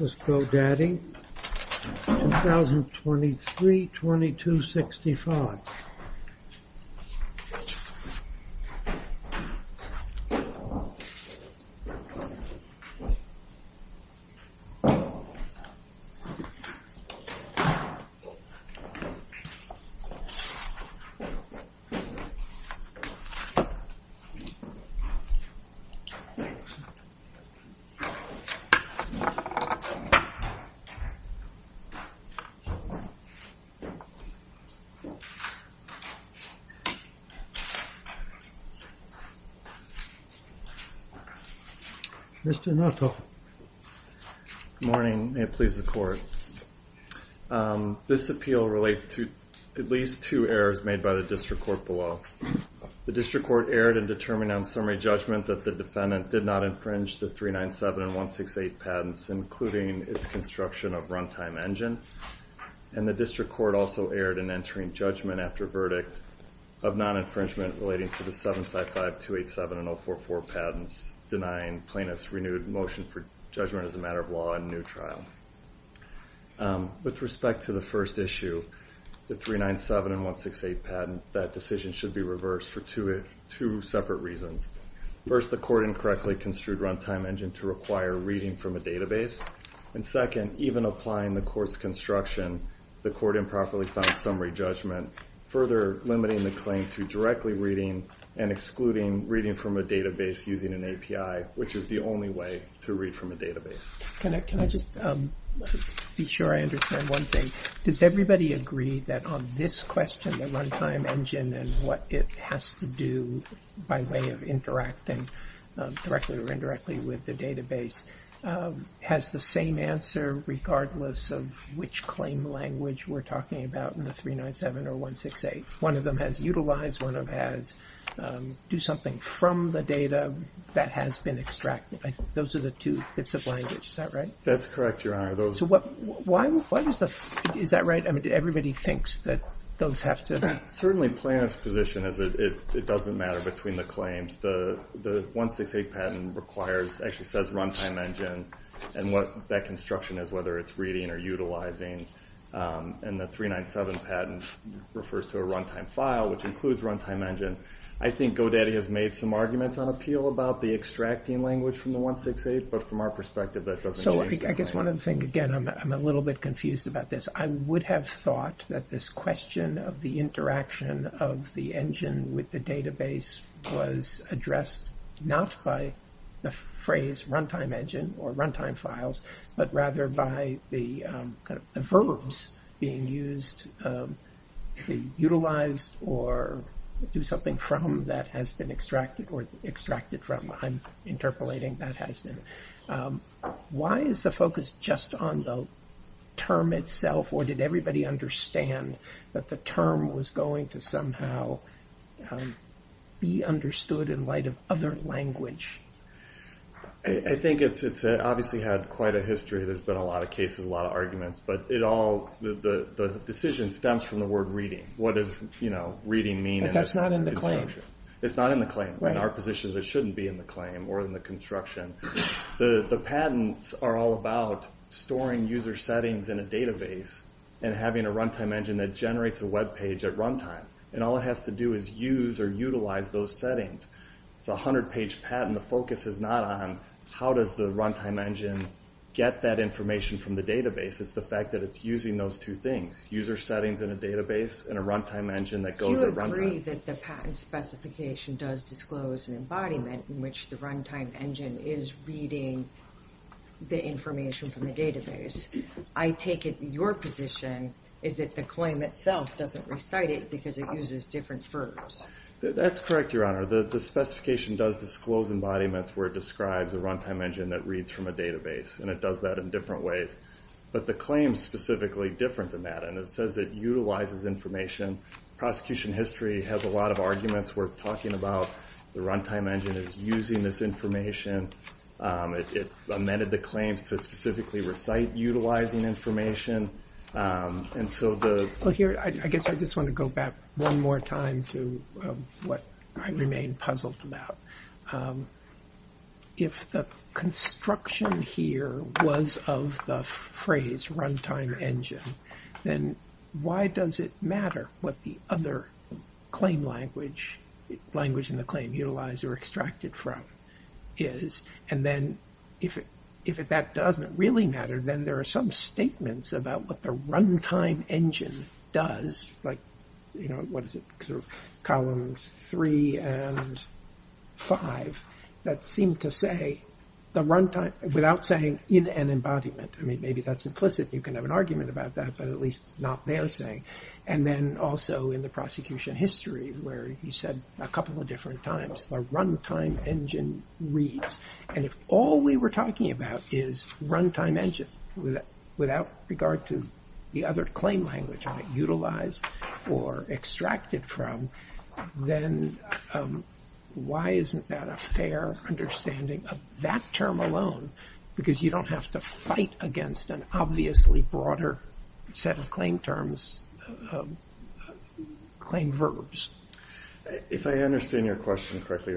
This is GoDaddy 2023-2265. Mr. Nortoff. Good morning, and may it please the Court. This appeal relates to at least two errors made by the District Court below. The District Court erred in determining on summary judgment that the defendant did not infringe the 397 and 168 patents, including its construction of runtime engine. And the District Court also erred in entering judgment after verdict of non-infringement relating to the 755, 287, and 044 patents, denying plaintiffs renewed motion for judgment as a matter of law in new trial. With respect to the first issue, the 397 and 168 patent, that decision should be reversed for two separate reasons. First, the Court incorrectly construed runtime engine to require reading from a database. And second, even applying the Court's construction, the Court improperly found summary judgment, further limiting the claim to directly reading and excluding reading from a database using an API, which is the only way to read from a database. Can I just be sure I understand one thing? Does everybody agree that on this question, the runtime engine and what it has to do by way of interacting directly or indirectly with the database has the same answer regardless of which claim language we're talking about in the 397 or 168? One of them has utilize, one of them has do something from the data that has been extracted. Those are the two bits of language, is that right? That's correct, Your Honor. So why does the, is that right? Everybody thinks that those have to. Certainly Planoff's position is that it doesn't matter between the claims. The 168 patent requires, actually says runtime engine, and what that construction is, whether it's reading or utilizing, and the 397 patent refers to a runtime file, which includes runtime engine. I think Godaddy has made some arguments on appeal about the extracting language from the 168, but from our perspective, that doesn't change the claim. So I guess one of the things, again, I'm a little bit confused about this. I would have thought that this question of the interaction of the engine with the database was addressed not by the phrase runtime engine or runtime files, but rather by the verbs being used, utilized, or do something from that has been extracted or extracted from. I'm interpolating that has been. Why is the focus just on the term itself, or did everybody understand that the term was going to somehow be understood in light of other language? I think it's obviously had quite a history. There's been a lot of cases, a lot of arguments, but it all, the decision stems from the word reading. What does reading mean? But that's not in the claim. It's not in the claim. In our position, it shouldn't be in the claim or in the construction. The patents are all about storing user settings in a database and having a runtime engine that generates a web page at runtime, and all it has to do is use or utilize those settings. It's a 100-page patent. The focus is not on how does the runtime engine get that information from the database. It's the fact that it's using those two things, user settings in a database and a runtime engine that goes at runtime. I agree that the patent specification does disclose an embodiment in which the runtime engine is reading the information from the database. I take it your position is that the claim itself doesn't recite it because it uses different verbs. That's correct, Your Honor. The specification does disclose embodiments where it describes a runtime engine that reads from a database, and it does that in different ways. But the claim's specifically different than that, and it says it utilizes information, and the prosecution history has a lot of arguments where it's talking about the runtime engine is using this information. It amended the claims to specifically recite utilizing information, and so the... Well, here, I guess I just want to go back one more time to what I remain puzzled about. If the construction here was of the phrase runtime engine, then why does it matter what the other claim language, language in the claim utilized or extracted from is? And then if that doesn't really matter, then there are some statements about what the runtime engine does, like, you know, what is it, columns three and five, that seem to say the runtime, without saying in an embodiment, I mean, maybe that's implicit, you can have an argument about that, but at least not there saying, and then also in the prosecution history where you said a couple of different times, the runtime engine reads, and if all we were talking about is runtime engine, without regard to the other claim language, utilize or extracted from, then why isn't that a fair understanding of that term alone, because you don't have to fight against an obviously broader set of claim terms, claim verbs. If I understand your question correctly,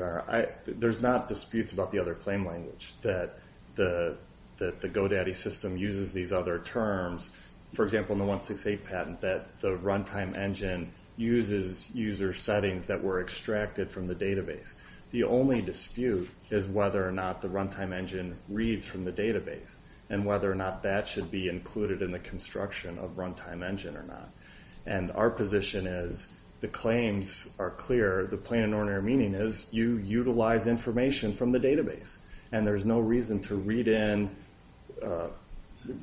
there's not disputes about the other claim language that the GoDaddy system uses these other terms. For example, in the 168 patent, that the runtime engine uses user settings that were extracted from the database. The only dispute is whether or not the runtime engine reads from the database, and whether or not that should be included in the construction of runtime engine or not. And our position is, the claims are clear, the plain and ordinary meaning is, you utilize information from the database, and there's no reason to read in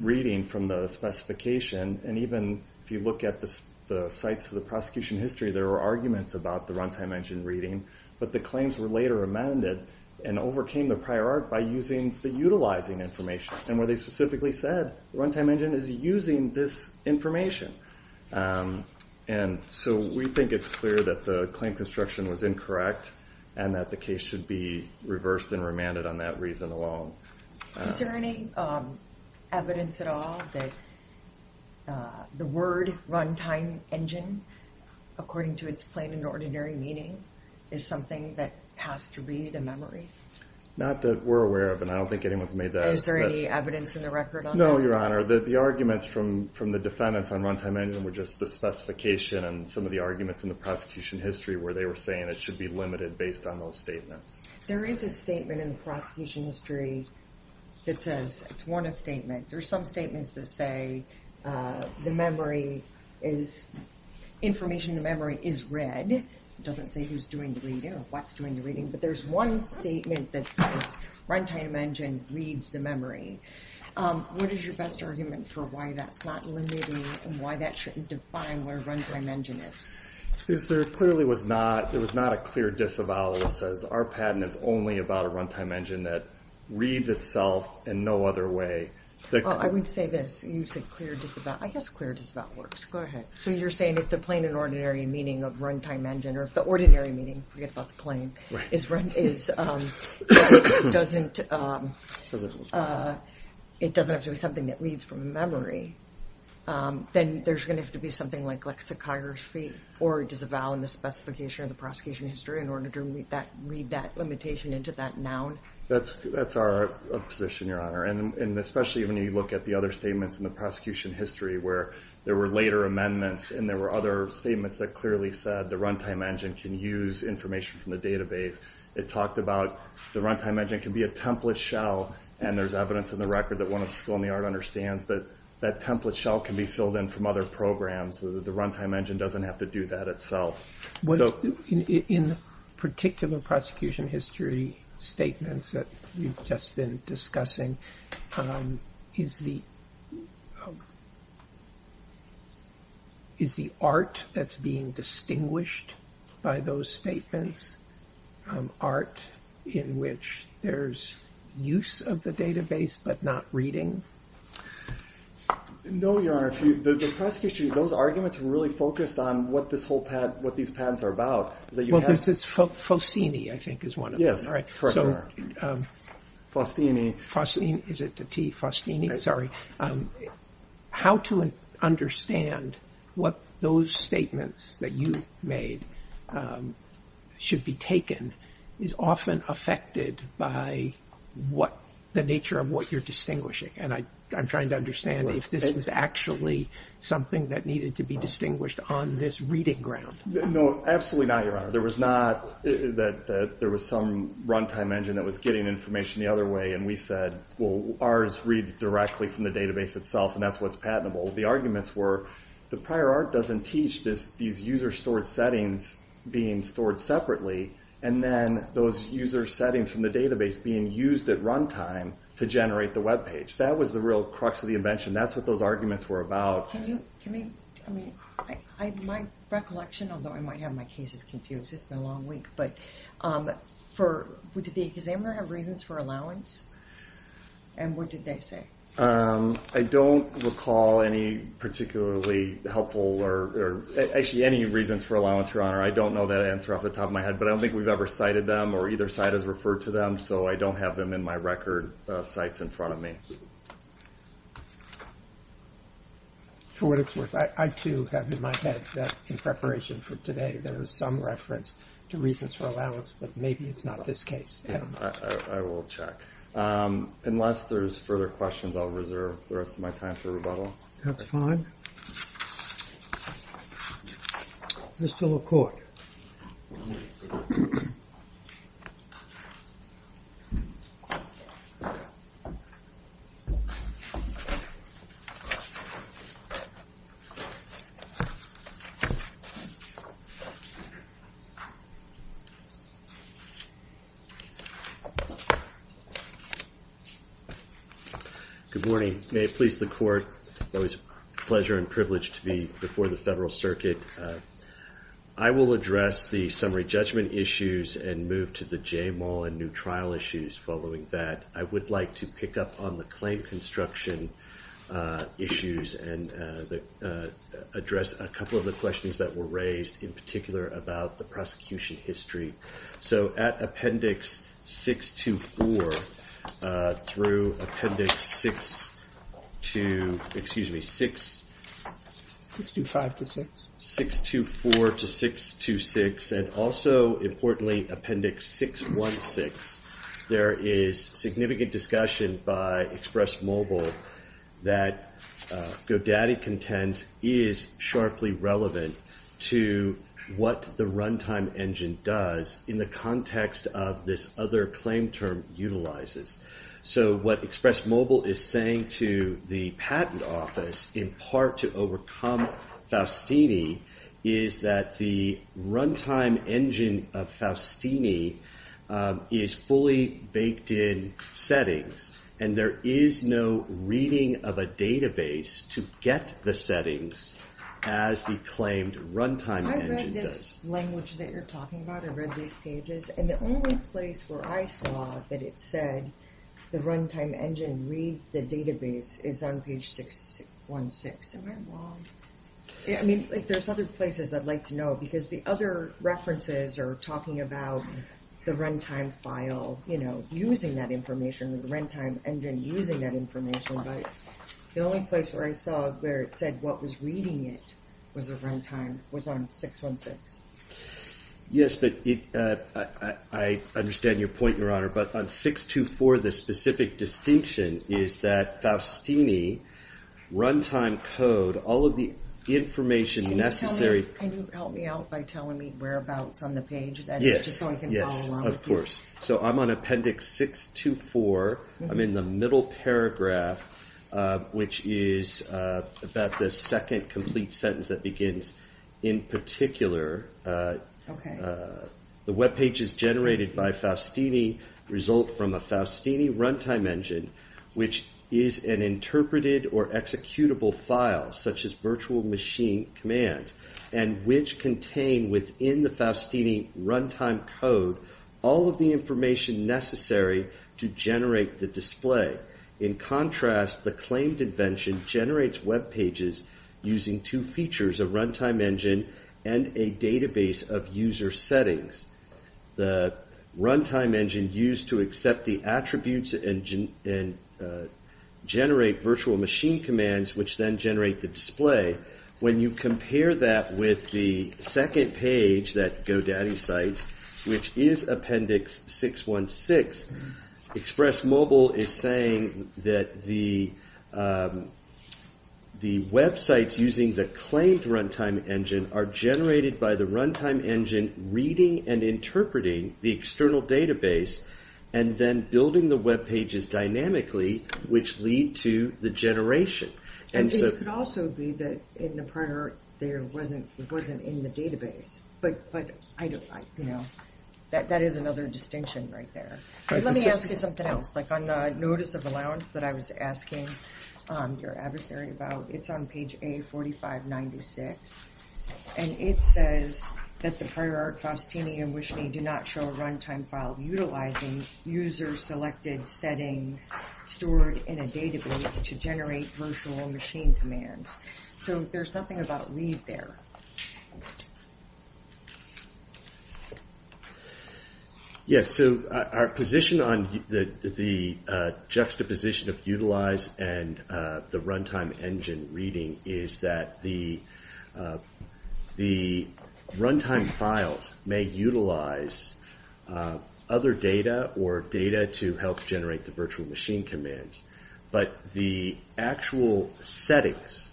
reading from the specification, and even if you look at the sites of the prosecution history, there are arguments about the runtime engine reading, but the claims were later amended and overcame the prior art by using the utilizing information, and where they specifically said, the runtime engine is using this information. And so we think it's clear that the claim construction was incorrect, and that the case should be reversed and remanded on that reason alone. Is there any evidence at all that the word runtime engine, according to its plain and ordinary meaning, is something that has to read a memory? Not that we're aware of, and I don't think anyone's made that. Is there any evidence in the record on that? No, Your Honor. The arguments from the defendants on runtime engine were just the specification and some of the arguments in the prosecution history where they were saying it should be limited based on those statements. There is a statement in the prosecution history that says, it's one statement, there's some statements that say the memory is, information in the memory is read, it doesn't say who's doing the reading or what's doing the reading, but there's one statement that says runtime engine reads the memory. What is your best argument for why that's not limiting, and why that shouldn't define where runtime engine is? Because there clearly was not, there was not a clear disavowal that says our patent is only about a runtime engine that reads itself in no other way. I would say this, you said clear disavowal, I guess clear disavowal works, go ahead. So you're saying if the plain and ordinary meaning of runtime engine, or if the ordinary meaning, forget about the plain, is, doesn't, it doesn't have to be something that reads from a memory, then there's going to have to be something like lexicography, or disavow in the specification of the prosecution history in order to read that limitation into that noun? That's our position, Your Honor, and especially when you look at the other statements in the prosecution history where there were later amendments, and there were other statements that clearly said the runtime engine can use information from the database. It talked about the runtime engine can be a template shell, and there's evidence in the record that one of the school in the art understands that that template shell can be filled in from other programs, so that the runtime engine doesn't have to do that itself. So. In particular prosecution history statements that you've just been discussing, is the, is the art that's being distinguished by those statements art in which there's use of the database, but not reading? No, Your Honor, the prosecution, those arguments really focused on what this whole patent, what these patents are about. Well, this is Faustini, I think, is one of them, right? Yes, correct. Faustini. Faustini, is it the T, Faustini, sorry. How to understand what those statements that you made should be taken is often affected by what the nature of what you're distinguishing, and I, I'm trying to understand if this is actually something that needed to be distinguished on this reading ground. No, absolutely not, Your Honor. There was not that, that there was some runtime engine that was getting information the other way and we said, well, ours reads directly from the database itself and that's what's patentable. The arguments were the prior art doesn't teach this, these user stored settings being stored separately and then those user settings from the database being used at runtime to generate the web page. That was the real crux of the invention. That's what those arguments were about. Can you, can you, I mean, I, my recollection, although I might have my cases confused, it's been a long week, but for, would the examiner have reasons for allowance? And what did they say? I don't recall any particularly helpful or, actually any reasons for allowance, Your Honor. I don't know that answer off the top of my head, but I don't think we've ever cited them or either side has referred to them. So I don't have them in my record sites in front of me. For what it's worth, I, I too have in my head that in preparation for today, there was some reference to reasons for allowance, but maybe it's not this case. I will check, unless there's further questions, I'll reserve the rest of my time for rebuttal. That's fine. Mr. LaCourte. Good morning. May it please the Court. It's always a pleasure and privilege to be before the Federal Circuit. I will address the summary judgment issues and move to the J Mollen new trial issues following that. I would like to pick up on the claim construction issues and address a couple of the questions that were raised in particular about the prosecution history. So at Appendix 624 through Appendix 6 to, excuse me, 6, 625 to 6, 624 to 626, and also importantly Appendix 616, there is significant discussion by Express Mobile that Godaddy content is sharply relevant to what the runtime engine does in the context of this other claim term utilizes. So what Express Mobile is saying to the patent office in part to overcome Faustini is that the runtime engine of Faustini is fully baked in settings and there is no reading of a database to get the settings as the claimed runtime engine does. I read this language that you're talking about. I read these pages and the only place where I saw that it said the runtime engine reads the database is on page 616. Am I wrong? Yeah, I mean if there's other places I'd like to know because the other references are talking about the runtime file, you know, using that information, the runtime engine using that information, but the only place where I saw where it said what was reading it was a runtime was on 616. Yes, but I understand your point, Your Honor, but on 624 the specific distinction is that Faustini runtime code, all of the information necessary. Can you help me out by telling me whereabouts on the page so I can follow along? Yes, of course. So I'm on appendix 624. I'm in the middle paragraph which is about the second complete sentence that begins, in particular, the web pages generated by Faustini result from a Faustini runtime engine which is an interpreted or executable file such as virtual machine command and which is the information necessary to generate the display. In contrast, the claimed invention generates web pages using two features, a runtime engine and a database of user settings. The runtime engine used to accept the attributes and generate virtual machine commands which then generate the display. When you compare that with the second page that GoDaddy cites, which is appendix 616, Express Mobile is saying that the websites using the claimed runtime engine are generated by the runtime engine reading and interpreting the external database and then building the web pages dynamically which lead to the generation. It could also be that in the prior art there wasn't in the database, but that is another distinction right there. Let me ask you something else. On the notice of allowance that I was asking your adversary about, it's on page A4596 and it says that the prior art Faustini and WishMe do not show a runtime file utilizing user-selected settings stored in a database to generate virtual machine commands. So there's nothing about read there. Yes, so our position on the juxtaposition of utilize and the runtime engine reading is that the runtime files may utilize other data or data to help generate the virtual machine commands, but the actual settings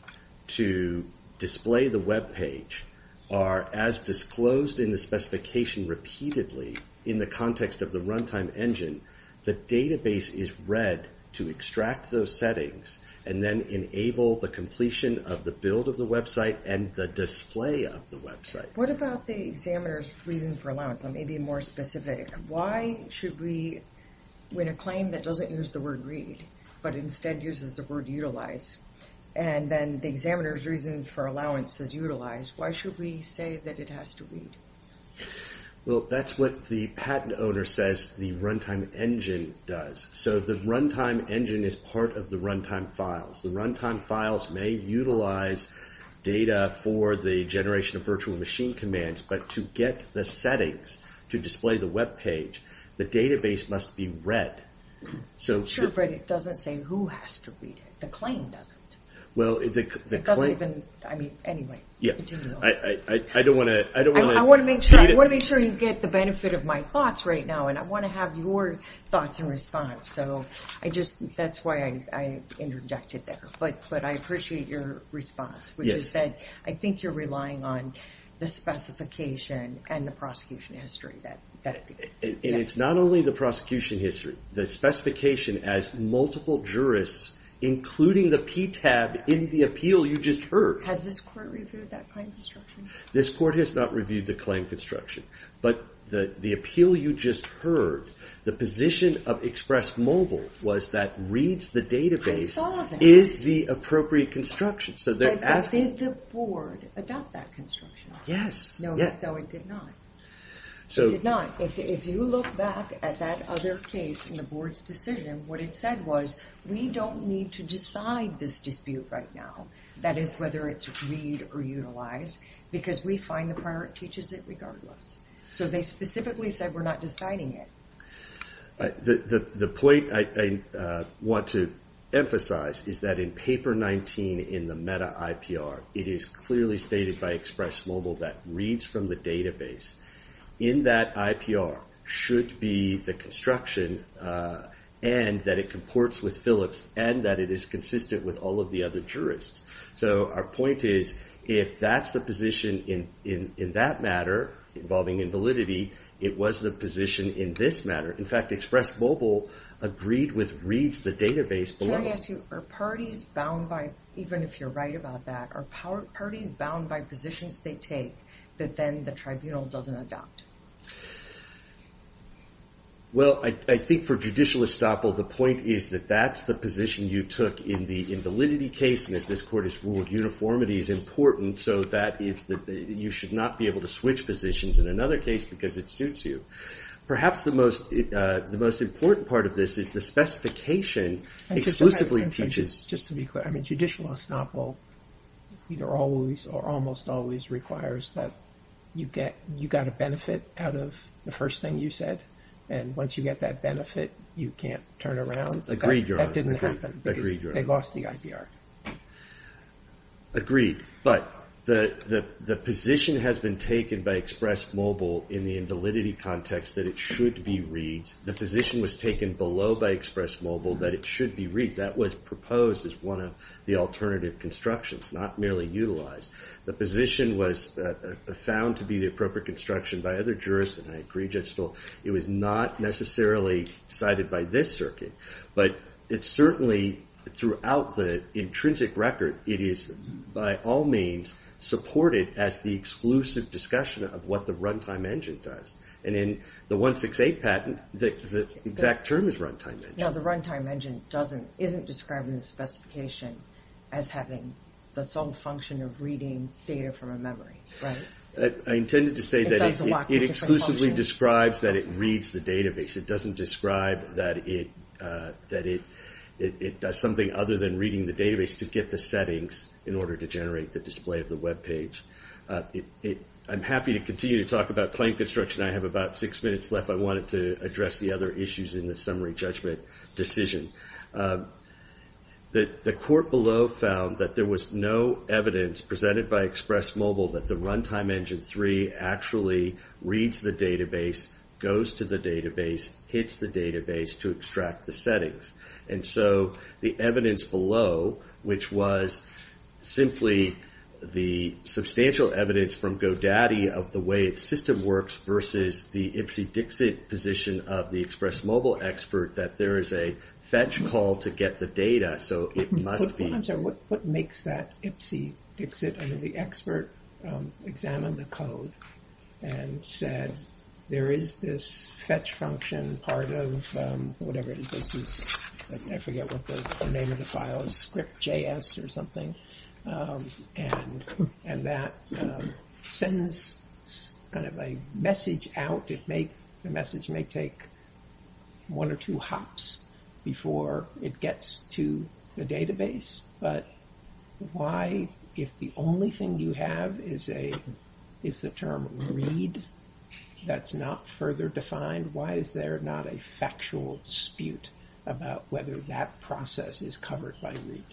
to display the web page are as disclosed in the specification repeatedly in the context of the runtime engine. The database is read to extract those settings and then enable the completion of the build of the website and the display of the website. What about the examiner's reason for allowance? I may be more specific. Why should we win a claim that doesn't use the word read, but instead uses the word utilize? And then the examiner's reason for allowance says utilize. Why should we say that it has to read? Well, that's what the patent owner says the runtime engine does. So the runtime engine is part of the runtime files. The runtime files may utilize data for the generation of virtual machine commands, but to get the settings to display the web page, the database must be read. Sure, but it doesn't say who has to read it. The claim doesn't. It doesn't even, I mean, anyway. I don't want to. I want to make sure you get the benefit of my thoughts right now, and I want to have your thoughts and response. So that's why I interjected there. But I appreciate your response, which is that I think you're relying on the specification and the prosecution history. And it's not only the prosecution history. It's the specification as multiple jurists, including the PTAB in the appeal you just heard. Has this court reviewed that claim construction? This court has not reviewed the claim construction. But the appeal you just heard, the position of Express Mobile was that reads the database is the appropriate construction. But did the board adopt that construction? Yes. No, it did not. It did not. If you look back at that other case in the board's decision, what it said was, we don't need to decide this dispute right now, that is, whether it's read or utilized, because we find the prior teaches it regardless. So they specifically said we're not deciding it. The point I want to emphasize is that in Paper 19 in the meta-IPR, it is clearly stated by Express Mobile that reads from the database. In that IPR should be the construction and that it comports with Phillips and that it is consistent with all of the other jurists. So our point is, if that's the position in that matter involving invalidity, it was the position in this matter. In fact, Express Mobile agreed with reads the database below. Can I ask you, are parties bound by, even if you're right about that, are parties bound by positions they take that then the tribunal doesn't adopt? Well, I think for judicial estoppel, the point is that that's the position you took in the invalidity case, and as this court has ruled, uniformity is important. So that is that you should not be able to switch positions in another case because it suits you. Perhaps the most important part of this is the specification exclusively teaches. Just to be clear, I mean, judicial estoppel always or almost always requires that you get a benefit out of the first thing you said, and once you get that benefit, you can't turn around. Agreed, Your Honor. That didn't happen because they lost the IPR. Agreed. But the position has been taken by Express Mobile in the invalidity context that it should be reads. The position was taken below by Express Mobile that it should be reads. That was proposed as one of the alternative constructions, not merely utilized. The position was found to be the appropriate construction by other jurists, and I agree, Judge Stoll, it was not necessarily decided by this circuit. But it certainly, throughout the intrinsic record, it is, by all means, supported as the exclusive discussion of what the runtime engine does. And in the 168 patent, the exact term is runtime engine. Now, the runtime engine isn't described in the specification as having the sole function of reading data from a memory, right? I intended to say that it exclusively describes that it reads the database. It doesn't describe that it does something other than reading the database to get the settings in order to generate the display of the web page. I'm happy to continue to talk about claim construction. I have about six minutes left. I wanted to address the other issues in the summary judgment decision. The court below found that there was no evidence presented by Express Mobile that the runtime engine 3 actually reads the database, goes to the database, hits the database to extract the settings. And so the evidence below, which was simply the substantial evidence from GoDaddy of the way its system works versus the ipsy-dixit position of the Express Mobile expert that there is a fetch call to get the data, so it must be. What makes that ipsy-dixit? I mean, the expert examined the code and said there is this fetch function part of whatever it is. This is, I forget what the name of the file is, script.js or something. And that sends kind of a message out. The message may take one or two hops before it gets to the database. But why, if the only thing you have is the term read that's not further defined, why is there not a factual dispute about whether that process is covered by read?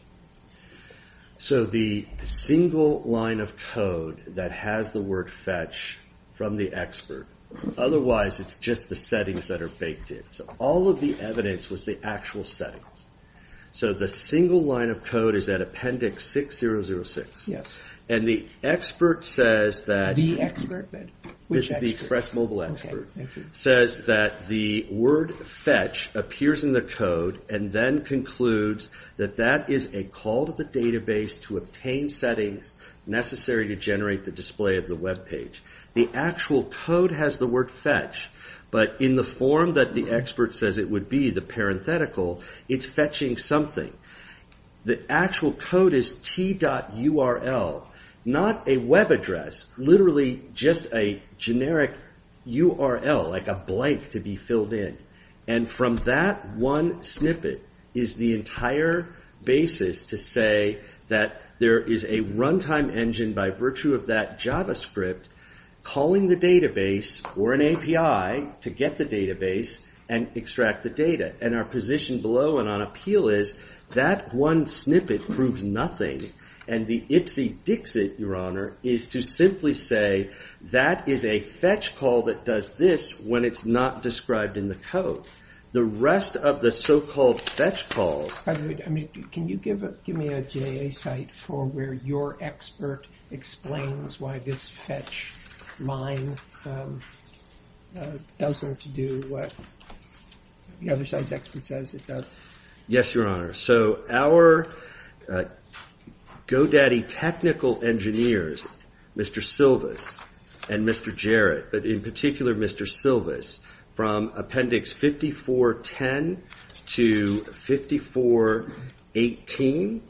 So the single line of code that has the word fetch from the expert, otherwise it's just the settings that are baked in. So all of the evidence was the actual settings. So the single line of code is at appendix 6006. Yes. And the expert says that... The expert? Which expert? The Express Mobile expert says that the word fetch appears in the code and then concludes that that is a call to the database to obtain settings necessary to generate the display of the web page. The actual code has the word fetch, but in the form that the expert says it would be, the parenthetical, it's fetching something. The actual code is t.url, not a web address, literally just a generic URL, like a blank to be filled in. And from that one snippet is the entire basis to say that there is a runtime engine by virtue of that JavaScript calling the database or an API to get the database and extract the data. And our position below and on appeal is that one snippet proves nothing and the ipsy-dixit, Your Honor, is to simply say that is a fetch call that does this when it's not described in the code. The rest of the so-called fetch calls... By the way, can you give me a JA site for where your expert explains why this fetch line doesn't do what the other side's expert says it does? Yes, Your Honor. So our GoDaddy technical engineers, Mr. Silvis and Mr. Jarrett, but in particular Mr. Silvis, from Appendix 5410 to 5418.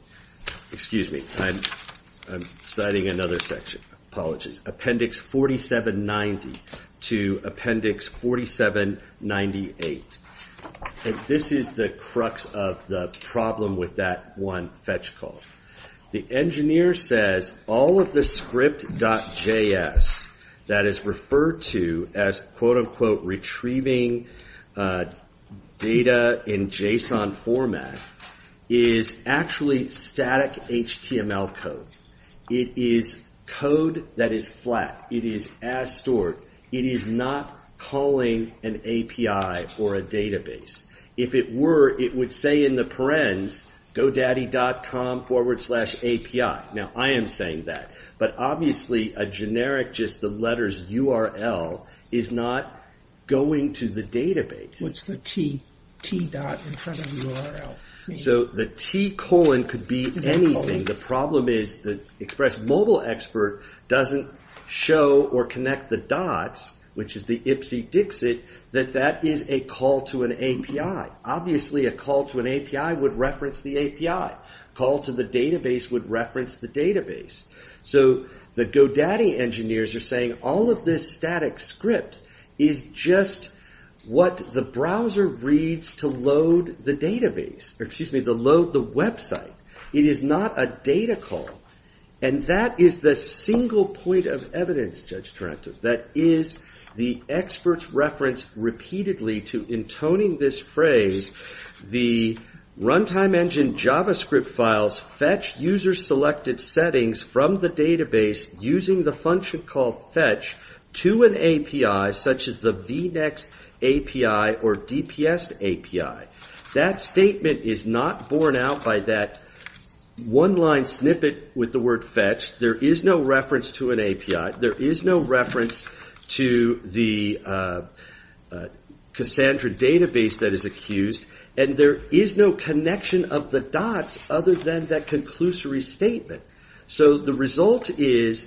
Excuse me, I'm citing another section. Apologies. Appendix 4790 to Appendix 4798. This is the crux of the problem with that one fetch call. The engineer says all of the script.js that is referred to as quote-unquote retrieving data in JSON format is actually static HTML code. It is code that is flat. It is as stored. It is not calling an API or a database. If it were, it would say in the parens, GoDaddy.com forward slash API. Now, I am saying that, but obviously a generic just the letters URL is not going to the database. What's the T dot in front of URL? So the T colon could be anything. The problem is that Express Mobile Expert doesn't show or connect the dots, which is the ipsy-dixit, that that is a call to an API. Obviously a call to an API would reference the API. A call to the database would reference the database. So the GoDaddy engineers are saying all of this static script is just what the browser reads to load the database. Excuse me, to load the website. It is not a data call. And that is the single point of evidence, Judge Trentham, that is the expert's reference repeatedly to intoning this phrase, the runtime engine JavaScript files fetch user-selected settings from the database using the function called fetch to an API such as the vNext API or DPS API. That statement is not borne out by that one-line snippet with the word fetch. There is no reference to an API. There is no reference to the Cassandra database that is accused. And there is no connection of the dots other than that conclusory statement. So the result is,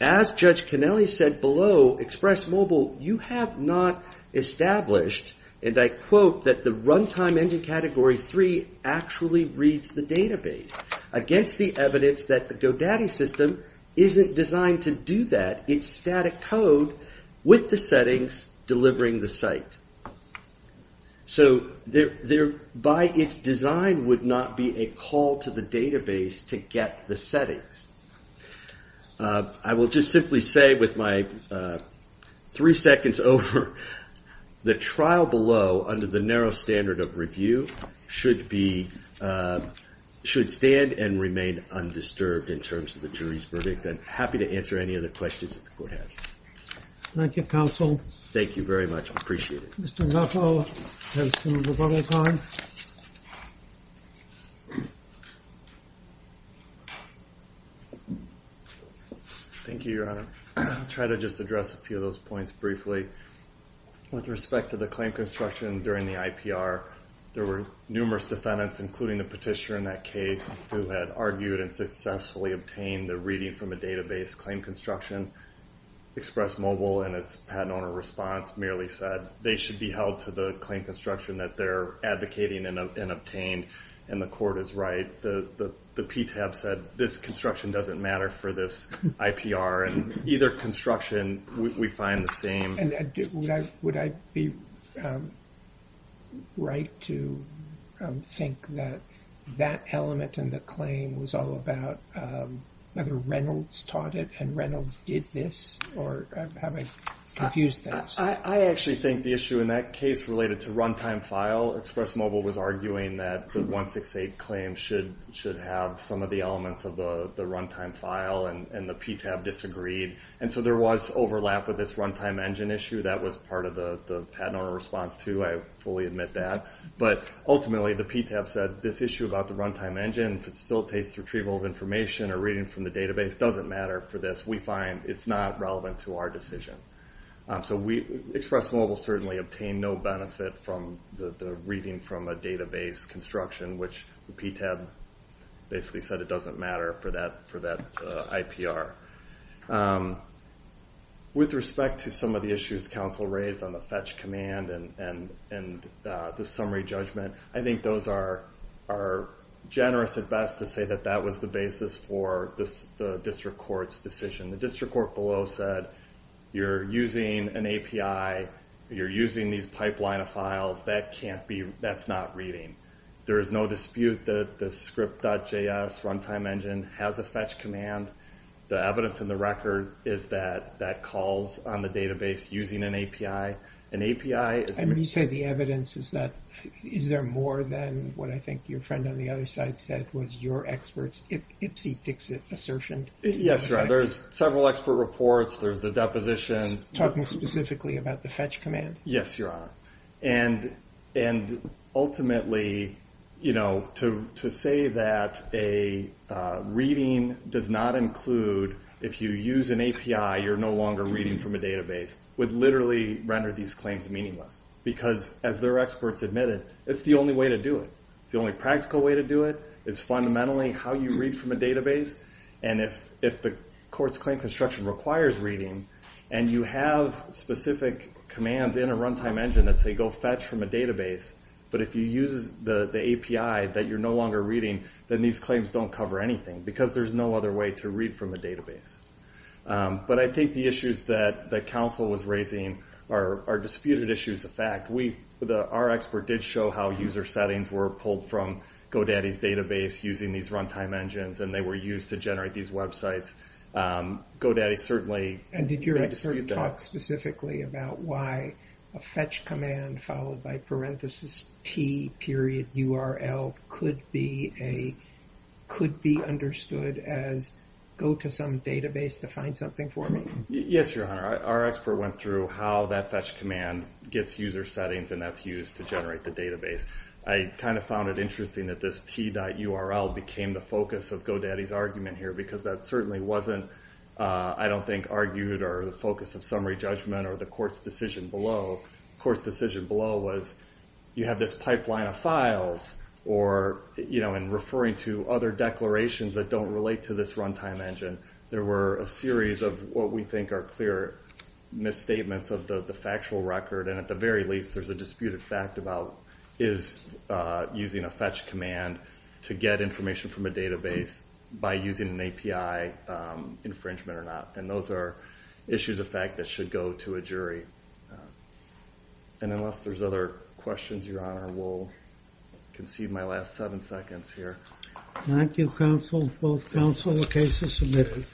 as Judge Kennelly said below, Express Mobile, you have not established, and I quote, that the runtime engine category 3 actually reads the database against the evidence that the GoDaddy system isn't designed to do that. It's static code with the settings delivering the site. So thereby its design would not be a call to the database to get the settings. I will just simply say with my three seconds over, the trial below, under the narrow standard of review, should stand and remain undisturbed in terms of the jury's verdict. I'm happy to answer any other questions that the court has. Thank you, counsel. Thank you very much. I appreciate it. Mr. Nuttall has some rebuttal time. Thank you, Your Honor. I'll try to just address a few of those points briefly. With respect to the claim construction during the IPR, there were numerous defendants, including the petitioner in that case, who had argued and successfully obtained the reading from a database claim construction. Express Mobile, in its patent owner response, merely said they should be held to the claim construction that they're advocating and obtained, and the court is right. The PTAB said this construction doesn't matter for this IPR, and either construction we find the same. Would I be right to think that that element in the claim was all about whether Reynolds taught it and Reynolds did this? Or have I confused things? I actually think the issue in that case related to runtime file, Express Mobile was arguing that the 168 claim should have some of the elements of the runtime file, and the PTAB disagreed. And so there was overlap with this runtime engine issue. That was part of the patent owner response, too. I fully admit that. But ultimately, the PTAB said this issue about the runtime engine, if it still takes retrieval of information or reading from the database, doesn't matter for this. We find it's not relevant to our decision. So Express Mobile certainly obtained no benefit from the reading from a database construction, which the PTAB basically said it doesn't matter for that IPR. With respect to some of the issues counsel raised on the fetch command and the summary judgment, I think those are generous at best to say that that was the basis for the district court's decision. The district court below said you're using an API, you're using these pipeline of files, that can't be, that's not reading. There is no dispute that the script.js runtime engine has a fetch command. The evidence in the record is that that calls on the database using an API. An API is... And you say the evidence is that, is there more than what I think your friend on the other side said was your expert's ipsy-dixit assertion? Yes, Your Honor. There's several expert reports. There's the deposition. Talking specifically about the fetch command. Yes, Your Honor. And ultimately, you know, to say that a reading does not include, if you use an API, you're no longer reading from a database, would literally render these claims meaningless. Because as their experts admitted, it's the only way to do it. It's the only practical way to do it. It's fundamentally how you read from a database. And if the court's claim construction requires reading, and you have specific commands in a runtime engine that say go fetch from a database, but if you use the API that you're no longer reading, then these claims don't cover anything. Because there's no other way to read from a database. But I think the issues that the counsel was raising are disputed issues of fact. Our expert did show how user settings were pulled from GoDaddy's database using these runtime engines. And they were used to generate these websites. GoDaddy certainly made a dispute there. And did your expert talk specifically about why a fetch command followed by parenthesis T period URL could be a, could be understood as go to some database to find something for me? Yes, Your Honor. Our expert went through how that fetch command gets user settings and that's used to generate the database. I kind of found it interesting that this T.URL became the focus of GoDaddy's argument here. Because that certainly wasn't, I don't think, argued or the focus of summary judgment or the court's decision below. The court's decision below was you have this pipeline of files or, you know, and referring to other declarations that don't relate to this runtime engine. There were a series of what we think are clear misstatements of the factual record. And at the very least there's a disputed fact about is using a fetch command to get information from a database by using an API infringement or not. And those are issues of fact that should go to a jury. And unless there's other questions, Your Honor, we'll concede my last seven seconds here. Thank you, counsel. Both counsel, the case is submitted.